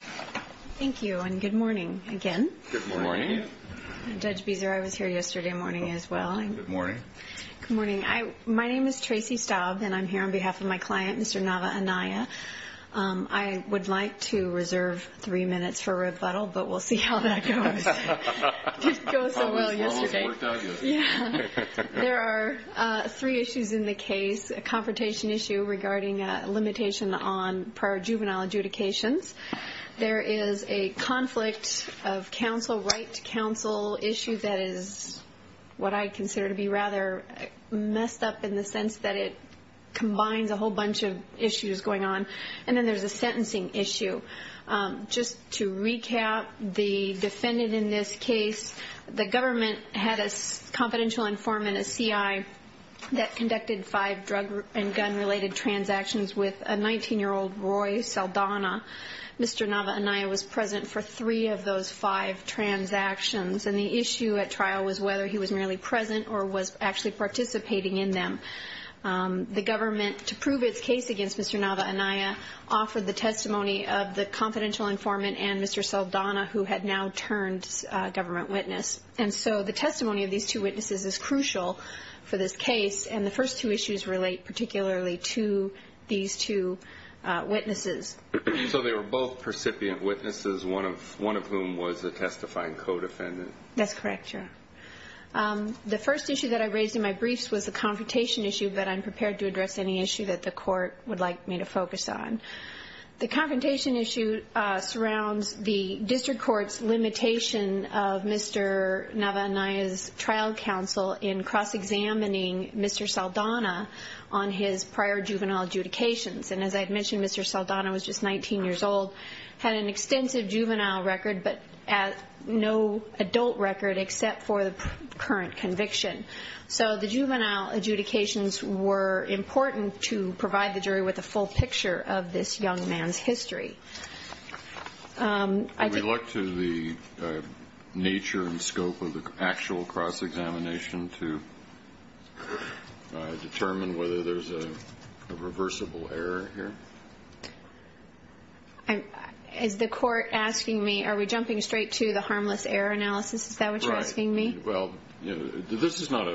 Thank you and good morning again. Judge Beezer I was here yesterday morning as well. Good morning. My name is Tracy Staub and I'm here on behalf of my client Mr. Nava-Anaya. I would like to reserve three minutes for rebuttal but we'll see how that goes. There are three issues in the case, a confrontation issue regarding a limitation on prior juvenile adjudications. There is a conflict of counsel right to counsel issue that is what I consider to be rather messed up in the sense that it combines a whole bunch of issues going on. And then there's a sentencing issue. Just to recap the defendant in this case, the government had a confidential informant, a CI, that conducted five drug and gun related transactions with a 19-year-old Roy Saldana. Mr. Nava-Anaya was present for three of those five transactions and the issue at trial was whether he was merely present or was actually participating in them. The government to prove its case against Mr. Nava-Anaya offered the testimony of the confidential informant and Mr. Saldana who had now turned government witness. And so the testimony of these two witnesses is crucial for this case and the first two issues relate particularly to these two witnesses. So they were both percipient witnesses, one of whom was the testifying co-defendant? That's correct, yeah. The first issue that I raised in my briefs was the confrontation issue but I'm prepared to address any issue that the court would like me to focus on. The confrontation issue surrounds the district court's limitation of Mr. Nava-Anaya's trial counsel in cross-examining Mr. Saldana on his prior juvenile adjudications. And as I mentioned, Mr. Saldana was just 19 years old, had an extensive juvenile record but no adult record except for the current conviction. So the juvenile adjudications were important to provide the jury with a full picture of this young man's history. I think it's up to the nature and scope of the actual cross-examination to determine whether there's a reversible error here. Is the court asking me, are we jumping straight to the harmless error analysis? Is that what you're asking me? Right. Well, you know, this is not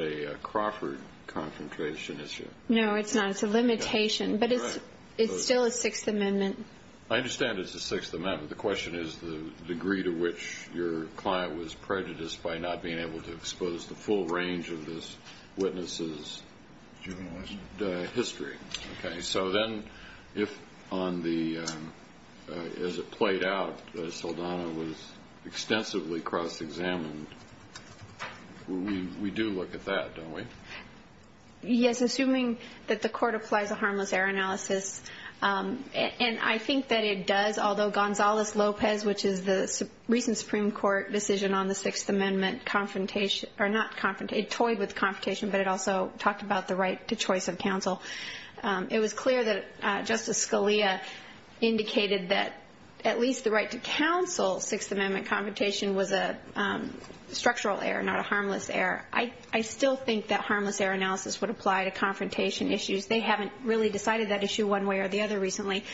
a Crawford confrontation issue. No, it's not. It's a limitation but it's still a Sixth Amendment. I understand it's a Sixth Amendment. But what I'm asking you is the degree to which your client was prejudiced by not being able to expose the full range of this witness's history. Okay. So then, if on the, as it played out, Saldana was extensively cross-examined, we do look at that, don't we? Yes, assuming that the court applies a harmless error analysis. And I think that it does, although Gonzales-Lopez, which is the recent Supreme Court decision on the Sixth Amendment confrontation, or not confrontation, it toyed with confrontation, but it also talked about the right to choice of counsel. It was clear that Justice Scalia indicated that at least the right to counsel Sixth Amendment confrontation was a structural error, not a harmless error. I still think that harmless error analysis would apply to confrontation issues. They haven't really decided that issue one way or the other recently.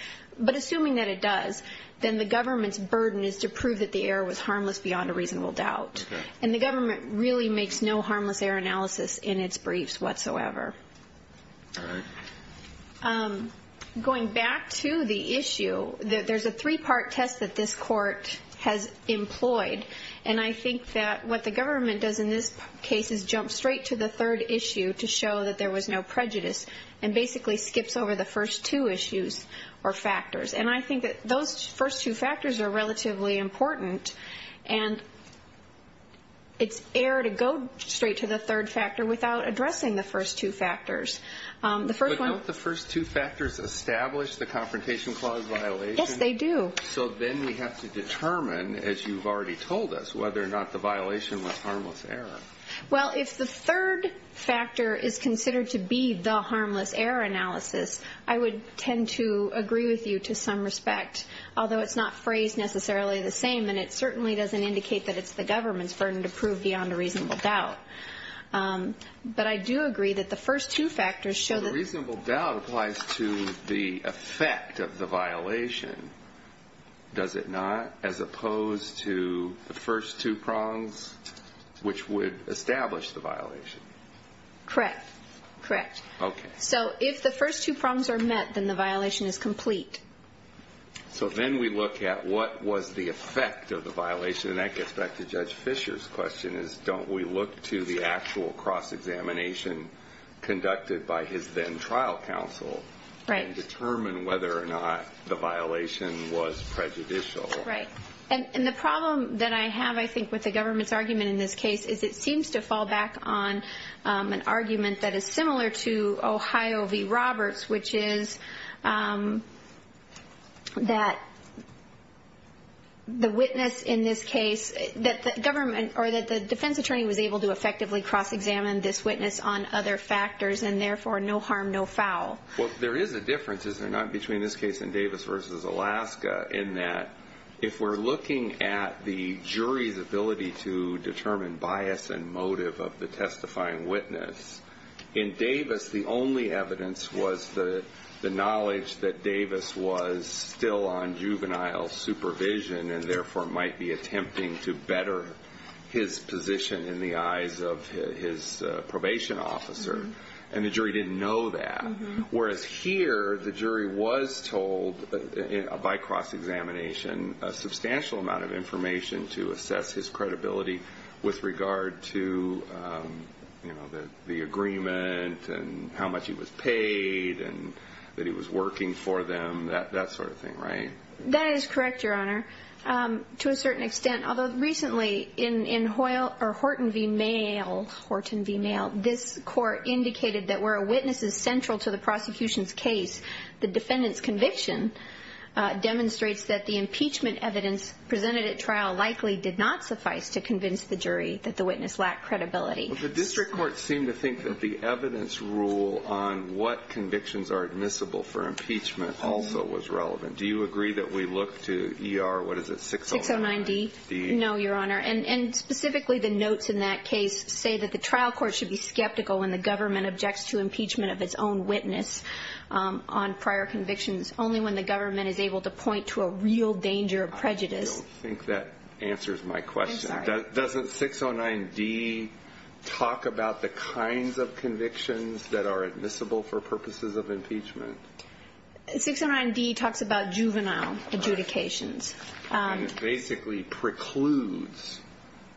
But assuming that it does, then the government's burden is to prove that the error was harmless beyond a reasonable doubt. And the government really makes no harmless error analysis in its briefs whatsoever. Going back to the issue, there's a three-part test that this court has employed. And I think that what the government does in this case is jump straight to the third issue to show that there was no prejudice, and basically skips over the first two issues or factors. And I think that those first two factors are relatively important. And it's error to go straight to the third factor without addressing the first two factors. The first one – But don't the first two factors establish the confrontation clause violation? Yes, they do. So then we have to determine, as you've already told us, whether or not the violation was harmless error. Well, if the third factor is considered to be the harmless error analysis, I would tend to agree with you to some respect. Although it's not phrased necessarily the same, and it certainly doesn't indicate that it's the government's burden to prove beyond a reasonable doubt. But I do agree that the first two factors show that – But a reasonable doubt applies to the effect of the violation, does it not? As would establish the violation. Correct. Correct. Okay. So if the first two problems are met, then the violation is complete. So then we look at what was the effect of the violation, and that gets back to Judge Fischer's question, is don't we look to the actual cross-examination conducted by his then-trial counsel and determine whether or not the violation was prejudicial? Right. And the problem that I have, I think, with the government's argument in this case, is it seems to fall back on an argument that is similar to Ohio v. Roberts, which is that the witness in this case – that the government – or that the defense attorney was able to effectively cross-examine this witness on other factors, and therefore no harm, no foul. Well, there is a difference, is there not, between this case and Davis v. Alaska in that if we're looking at the jury's ability to determine bias and motive of the testifying witness, in Davis the only evidence was the knowledge that Davis was still on juvenile supervision and therefore might be attempting to better his position in the eyes of his probation officer, and the jury didn't know that. Whereas here, the jury was told, by cross-examination, a substantial amount of information to assess his credibility with regard to the agreement and how much he was paid and that he was working for them, that sort of thing, right? That is correct, Your Honor, to a certain extent, although recently in Horton v. Alaska, the witness is central to the prosecution's case. The defendant's conviction demonstrates that the impeachment evidence presented at trial likely did not suffice to convince the jury that the witness lacked credibility. Well, the district courts seem to think that the evidence rule on what convictions are admissible for impeachment also was relevant. Do you agree that we look to ER – what is it – 609D? 609D. No, Your Honor. And specifically, the notes in that case say that the trial is subject to the impeachment of its own witness on prior convictions only when the government is able to point to a real danger of prejudice. I don't think that answers my question. I'm sorry. Doesn't 609D talk about the kinds of convictions that are admissible for purposes of impeachment? 609D talks about juvenile adjudications. And it basically precludes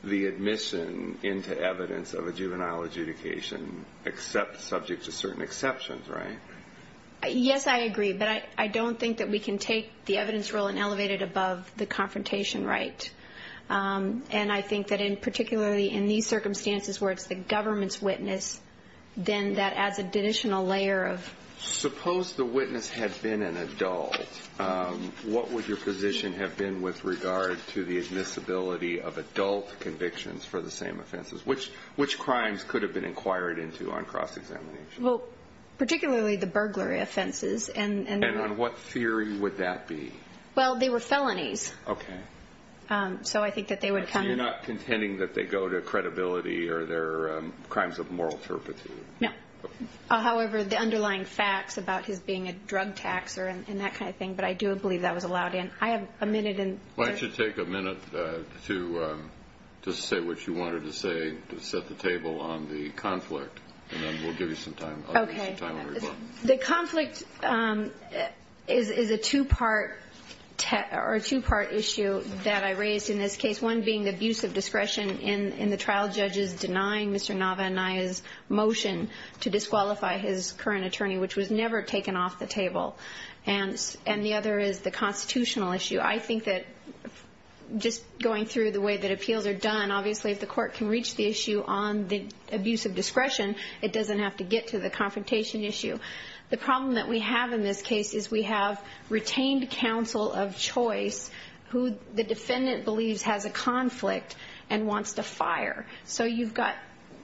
the admission into evidence of a juvenile adjudication except – subject to certain exceptions, right? Yes, I agree. But I don't think that we can take the evidence rule and elevate it above the confrontation right. And I think that in – particularly in these circumstances where it's the government's witness, then that adds an additional layer of – Suppose the witness had been an adult. What would your position have been with regard to the admissibility of adult convictions for the same offenses? Which crimes could have been inquired into on cross-examination? Well, particularly the burglary offenses. And – And on what theory would that be? Well, they were felonies. Okay. So I think that they would come – You're not contending that they go to credibility or they're crimes of moral turpitude? No. However, the underlying facts about his being a drug taxer and that kind of thing. But I do believe that was allowed in. I have a minute and – Why don't you take a minute to say what you wanted to say, to set the table on the conflict. And then we'll give you some time. Okay. I'll give you some time when we're done. The conflict is a two-part issue that I raised in this case. One being the abuse of discretion in the trial judges denying Mr. Nava and Naya's motion to disqualify his current attorney, which was never taken off the table. And the other is the constitutional issue. I think that just going through the way that appeals are done, obviously if the court can reach the issue on the abuse of discretion, it doesn't have to get to the confrontation issue. The problem that we have in this case is we have retained counsel of choice who the defendant believes has a conflict and wants to fire. So you've got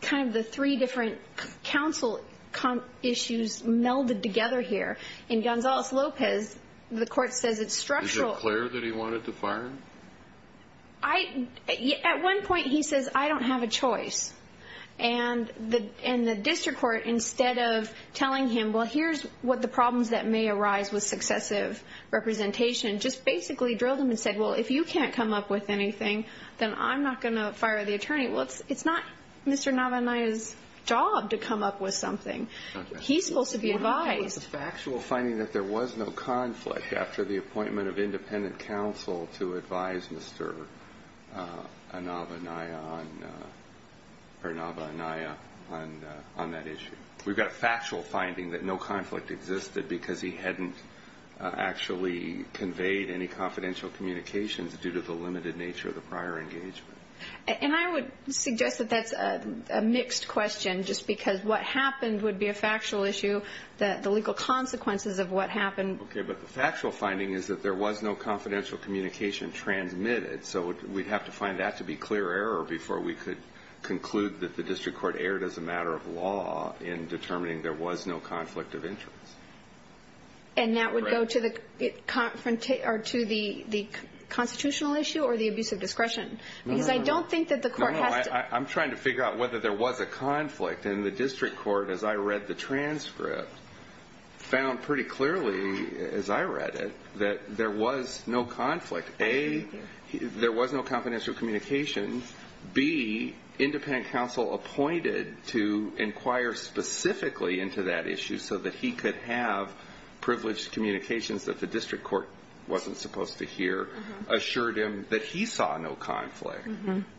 kind of the three different counsel issues melded together here. In Gonzalez-Lopez, the court says it's structural. Is it clear that he wanted to fire him? At one point he says, I don't have a choice. And the district court, instead of telling him, well, here's what the problems that may arise with successive representation, just basically drilled him and said, well, if you can't come up with anything, then I'm not going to fire the attorney. Well, it's not Mr. Nava and Naya's job to come up with something. He's supposed to be advised. We've got a factual finding that there was no conflict after the appointment of independent counsel to advise Mr. Nava and Naya on that issue. We've got a factual finding that no conflict existed because he hadn't actually conveyed any confidential communications due to the limited nature of the prior engagement. And I would suggest that that's a mixed question, just because what happened would be a factual issue, the legal consequences of what happened. Okay, but the factual finding is that there was no confidential communication transmitted. So we'd have to find that to be clear error before we could conclude that the district court erred as a matter of law in determining there was no conflict of interest. And that would go to the constitutional issue or the abuse of discretion? No, no, no. I'm trying to figure out whether there was a conflict. And the fact that I read the transcript found pretty clearly, as I read it, that there was no conflict. A, there was no confidential communication. B, independent counsel appointed to inquire specifically into that issue so that he could have privileged communications that the district court wasn't supposed to hear assured him that he saw no conflict.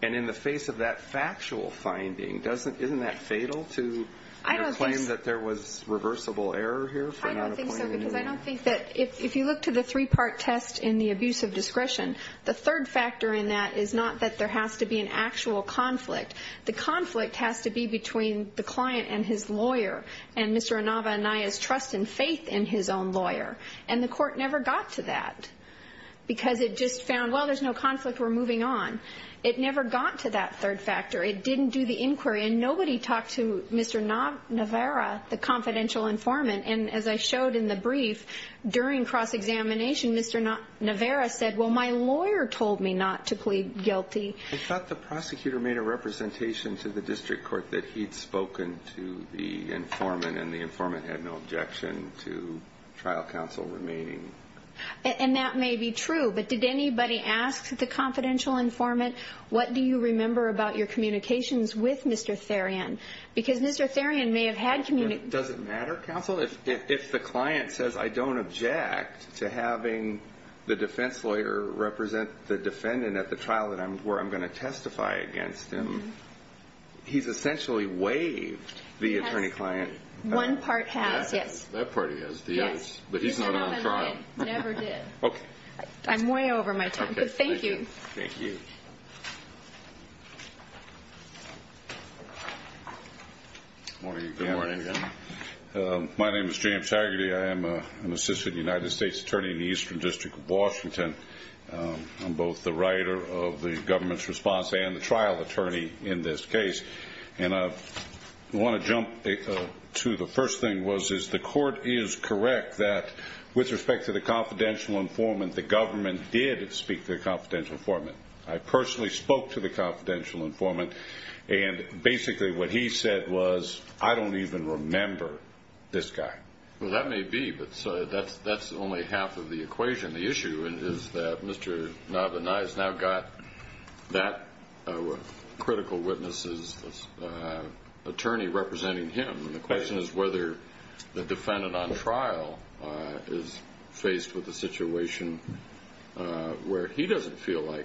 And in the face of that factual finding, isn't that fatal to claim that there was reversible error here for not appointing him? I don't think so, because I don't think that, if you look to the three-part test in the abuse of discretion, the third factor in that is not that there has to be an actual conflict. The conflict has to be between the client and his lawyer and Mr. Inaba and Naya's trust and faith in his own lawyer. And the court never got to that, because it just found, well, there's no conflict, we're moving on. It never got to that third factor. It didn't do the inquiry. And nobody talked to Mr. Navarro, the confidential informant. And as I showed in the brief, during cross-examination, Mr. Navarro said, well, my lawyer told me not to plead guilty. I thought the prosecutor made a representation to the district court that he'd spoken to the informant, and the informant had no objection to trial counsel remaining. And that may be true, but did anybody ask the confidential informant, what do you remember about your communications with Mr. Therian? Because Mr. Therian may have had communication... Does it matter, counsel, if the client says, I don't object to having the defense lawyer represent the defendant at the trial where I'm going to testify against him? He's essentially waived the attorney-client... One part has, yes. That part has, yes. But he's not on trial. No, I'm not. Never did. I'm way over my time, but thank you. Thank you. Morning. Good morning. My name is James Taggarty. I am an assistant United States attorney in the Eastern District of Washington. I'm both the writer of the government's response and the trial attorney in this case. And I want to the first thing was, is the court is correct that with respect to the confidential informant, the government did speak to the confidential informant. I personally spoke to the confidential informant, and basically what he said was, I don't even remember this guy. Well, that may be, but that's only half of the equation. The issue is that Mr. Therrien is a civil witness's attorney representing him. And the question is whether the defendant on trial is faced with a situation where he doesn't feel like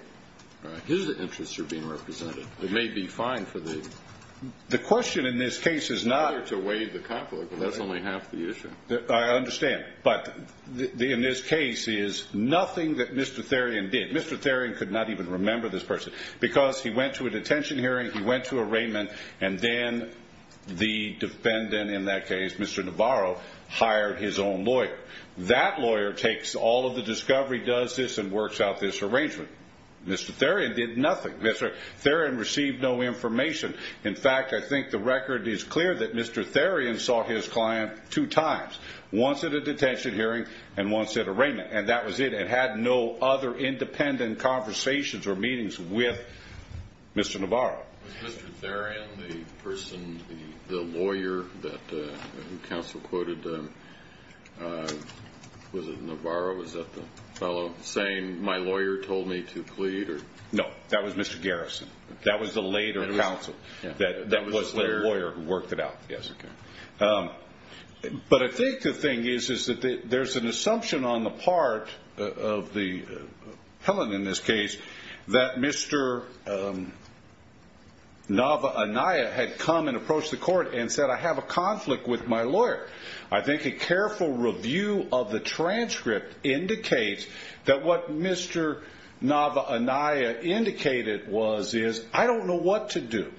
his interests are being represented. It may be fine for the... The question in this case is not... ...to waive the conflict, but that's only half the issue. I understand. But in this case is nothing that Mr. Therrien did. Mr. Therrien could not even remember this person because he went to a detention hearing. He went to arraignment, and then the defendant in that case, Mr. Navarro, hired his own lawyer. That lawyer takes all of the discovery, does this and works out this arrangement. Mr. Therrien did nothing. Mr. Therrien received no information. In fact, I think the record is clear that Mr. Therrien saw his client two times, once at a detention hearing and once at arraignment. And that was it. And had no other independent conversations or meetings with Mr. Navarro. Was Mr. Therrien the person, the lawyer that the counsel quoted... Was it Navarro? Was that the fellow saying, my lawyer told me to plead or... No, that was Mr. Garrison. That was the later counsel. That was the lawyer who worked it out. Yes. Okay. But I think the thing is, is that there's an assumption on the part of the Helen in this case, that Mr. Navarro had come and approached the court and said, I have a conflict with my lawyer. I think a careful review of the transcript indicates that what Mr. Navarro indicated was, is I don't know what to do.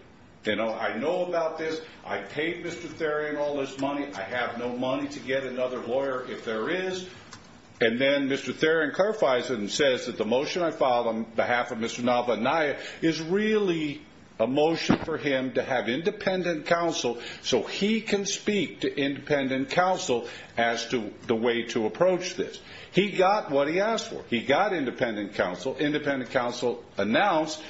I know about this. I paid Mr. Therrien all this money. I have no lawyer, if there is. And then Mr. Therrien clarifies it and says that the motion I filed on behalf of Mr. Navarro is really a motion for him to have independent counsel so he can speak to independent counsel as to the way to approach this. He got what he asked for. He got independent counsel. Independent counsel announced,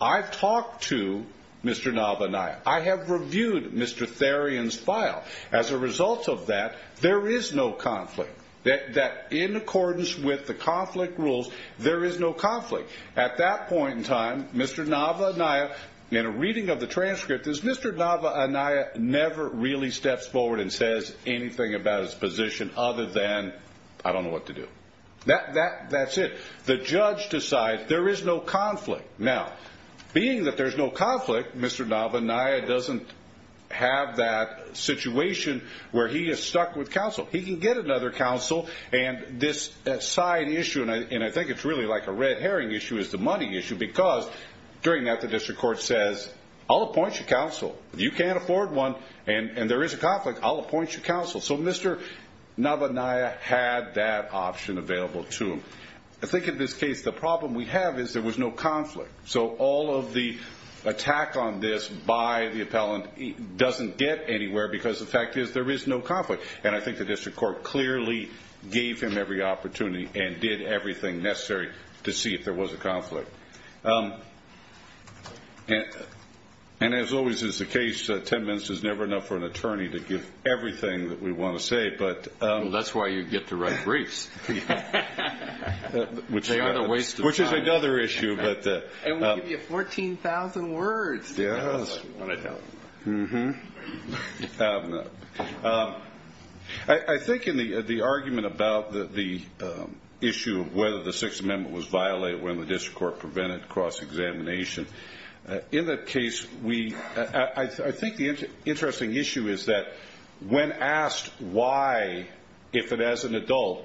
I've talked to Mr. Navarro. I have reviewed Mr. Therrien's file. As a result of that, there is no conflict. That in accordance with the conflict rules, there is no conflict. At that point in time, Mr. Navarro and I, in a reading of the transcript, is Mr. Navarro and I never really steps forward and says anything about his position other than, I don't know what to do. That's it. The judge decides there is no conflict. Now, being that there's no conflict, Mr. Navarro and I doesn't have that situation where he is stuck with counsel. He can get another counsel and this side issue, and I think it's really like a red herring issue, is the money issue because during that, the district court says, I'll appoint you counsel. You can't afford one and there is a conflict. I'll appoint you counsel. So Mr. Navarro and I had that option available to him. I think in this case, the problem we have is there was no conflict. So all of the attack on this by the appellant doesn't get anywhere because the fact is there is no conflict. And I think the district court clearly gave him every opportunity and did everything necessary to see if there was a conflict. And as always is the case, 10 minutes is never enough for an attorney to give everything that we wanna say, but... That's why you get to the other issue, but... And we'll give you 14,000 words. Yes. I think in the argument about the issue of whether the Sixth Amendment was violated when the district court prevented cross examination, in that case, we... I think the interesting issue is that when asked why, if it as an adult,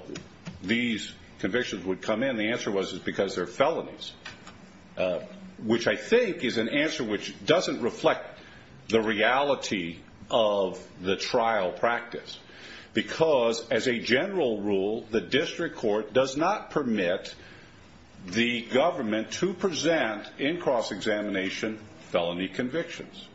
these convictions would come in, the answer was it's because they're felonies, which I think is an answer which doesn't reflect the reality of the trial practice. Because as a general rule, the district court does not permit the government to present in cross examination felony convictions.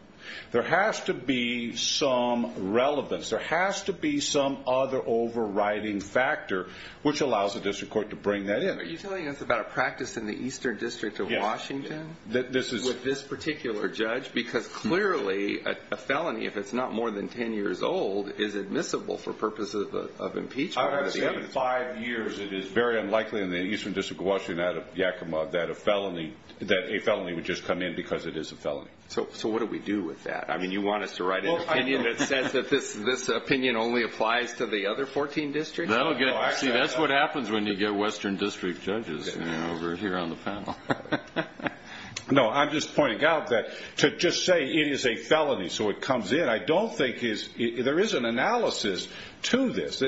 There has to be some relevance, there has to be some other overriding factor which allows the district court to bring that in. Are you telling us about a practice in the Eastern District of Washington? Yes. That this is... With this particular judge? Because clearly, a felony, if it's not more than 10 years old, is admissible for purposes of impeachment. I would say every five years, it is very unlikely in the Eastern District of Washington out of Yakima that a felony would just come in because it is a felony. So what do we do with that? You want us to write an opinion that says that this opinion only applies to the other 14 districts? No. See, that's what happens when you get Western District judges over here on the panel. No, I'm just pointing out that to just say it is a felony, so it comes in, I don't think there is an analysis to this.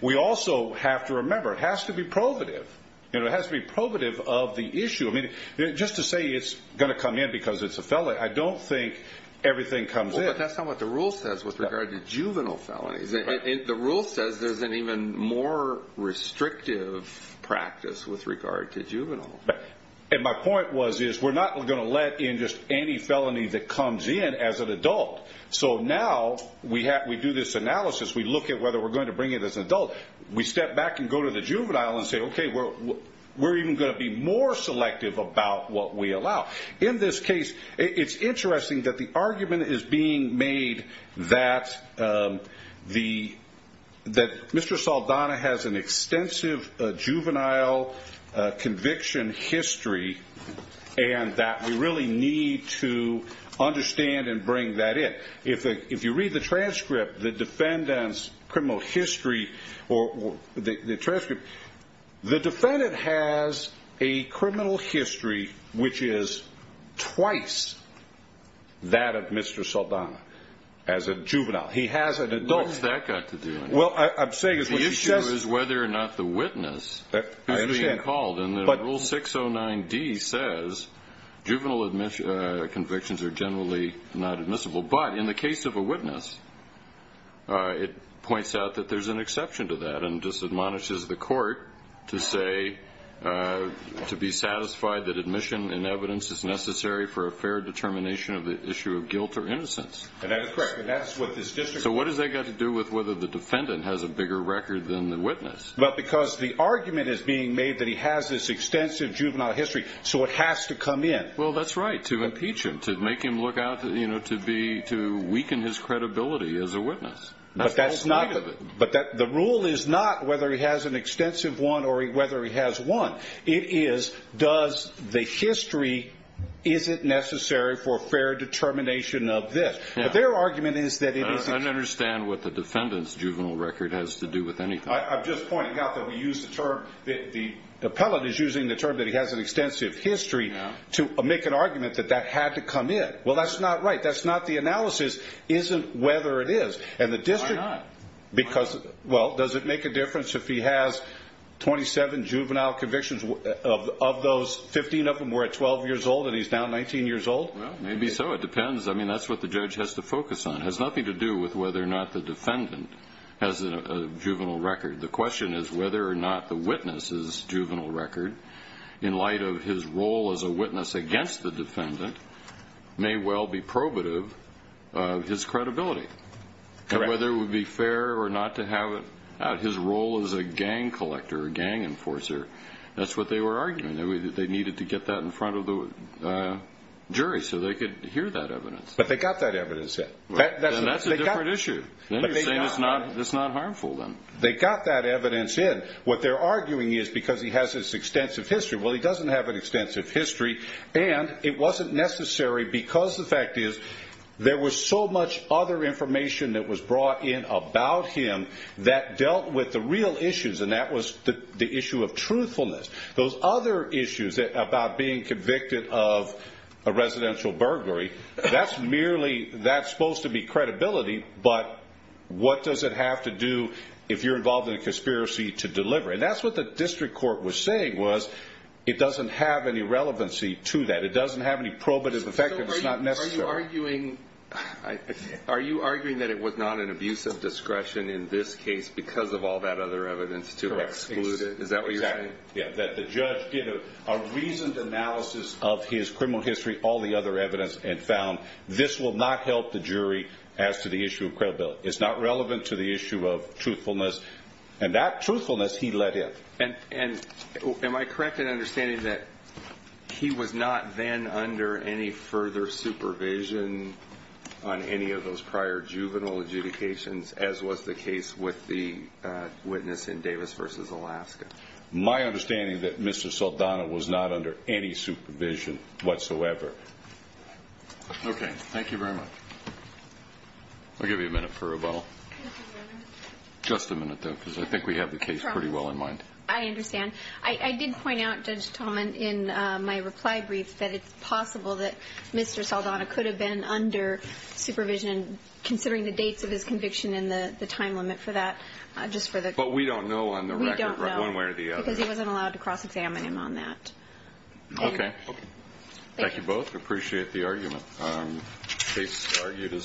We also have to remember, it has to be probative. It has to be probative of the issue. Just to say it's gonna come in because it's a felony, I don't think everything comes in. Well, but that's not what the rule says with regard to juvenile felonies. The rule says there's an even more with regard to juvenile. And my point was, is we're not gonna let in just any felony that comes in as an adult. So now, we do this analysis, we look at whether we're going to bring in as an adult, we step back and go to the juvenile and say, okay, we're even gonna be more selective about what we allow. In this case, it's interesting that the argument is being made that Mr. Saldana has an extensive juvenile conviction history and that we really need to understand and bring that in. If you read the transcript, the defendant's criminal history or the transcript, the defendant has a criminal history which is twice that of Mr. Saldana as a juvenile. He has an adult. What's that got to do with it? Well, I'm saying is what she says... The issue is whether or not the witness is being called. And then rule 609D says juvenile convictions are generally not admissible. But in the case of a witness, it points out that there's an exception to that and just admonishes the court to say to be satisfied that admission and evidence is necessary for a fair determination of the issue of guilt or innocence. And that is correct. And that's what this district... So what has that got to do with whether the defendant has a bigger record than the witness? Well, because the argument is being made that he has this extensive juvenile history, so it has to come in. Well, that's right, to impeach him, to make him look out to weaken his credibility as a witness. That's the whole point of it. But the rule is not whether he has an extensive one or whether he has one. It is, does the history... Is it necessary for fair determination of this? But their argument is that it is... I don't understand what the defendant's juvenile record has to do with anything. I'm just pointing out that we use the term... The appellate is using the term that he has an extensive history to make an argument that that had to come in. Well, that's not right. That's not the analysis, isn't whether it is. And the district... Why not? Because... Well, does it make a difference if he has 27 juvenile convictions? Of those, 15 of them were at 12 years old, and he's now 19 years old? Well, maybe so. It depends. That's what the judge has to focus on. It has nothing to do with whether or not the defendant has a juvenile record. The question is whether or not the witness's juvenile record, in light of his role as a witness against the defendant, may well be probative of his credibility. Correct. And whether it would be fair or not to have it... His role as a gang collector, a gang enforcer, that's what they were arguing. They needed to get that in front of the jury, so they could hear that evidence. But they got that evidence in. And that's a different issue. Then you're saying it's not harmful then. They got that evidence in. What they're arguing is because he has this extensive history. Well, he doesn't have an extensive history, and it wasn't necessary because the fact is, there was so much other information that was brought in about him that dealt with the real issues, and that was the other issues about being convicted of a residential burglary. That's merely... That's supposed to be credibility, but what does it have to do if you're involved in a conspiracy to deliver? And that's what the district court was saying, was it doesn't have any relevancy to that. It doesn't have any probative effect, and it's not necessary. Are you arguing that it was not an abuse of discretion in this case because of all that other evidence to exclude it? Correct. Is that what you're saying? Yeah, that the judge did a reasoned analysis of his criminal history, all the other evidence, and found this will not help the jury as to the issue of credibility. It's not relevant to the issue of truthfulness. And that truthfulness, he let in. And am I correct in understanding that he was not then under any further supervision on any of those prior juvenile adjudications, as was the case with the Alaskans versus Alaska? My understanding is that Mr. Saldana was not under any supervision whatsoever. Okay, thank you very much. I'll give you a minute for rebuttal. Just a minute though, because I think we have the case pretty well in mind. I understand. I did point out, Judge Tallman, in my reply brief, that it's possible that Mr. Saldana could have been under supervision, considering the dates of his conviction and the time limit for that, just for the... But we don't know on the record... We don't know. One way or the other. Because he wasn't allowed to cross examine him on that. Okay. Okay. Thank you both. Appreciate the argument. Case argued is submitted.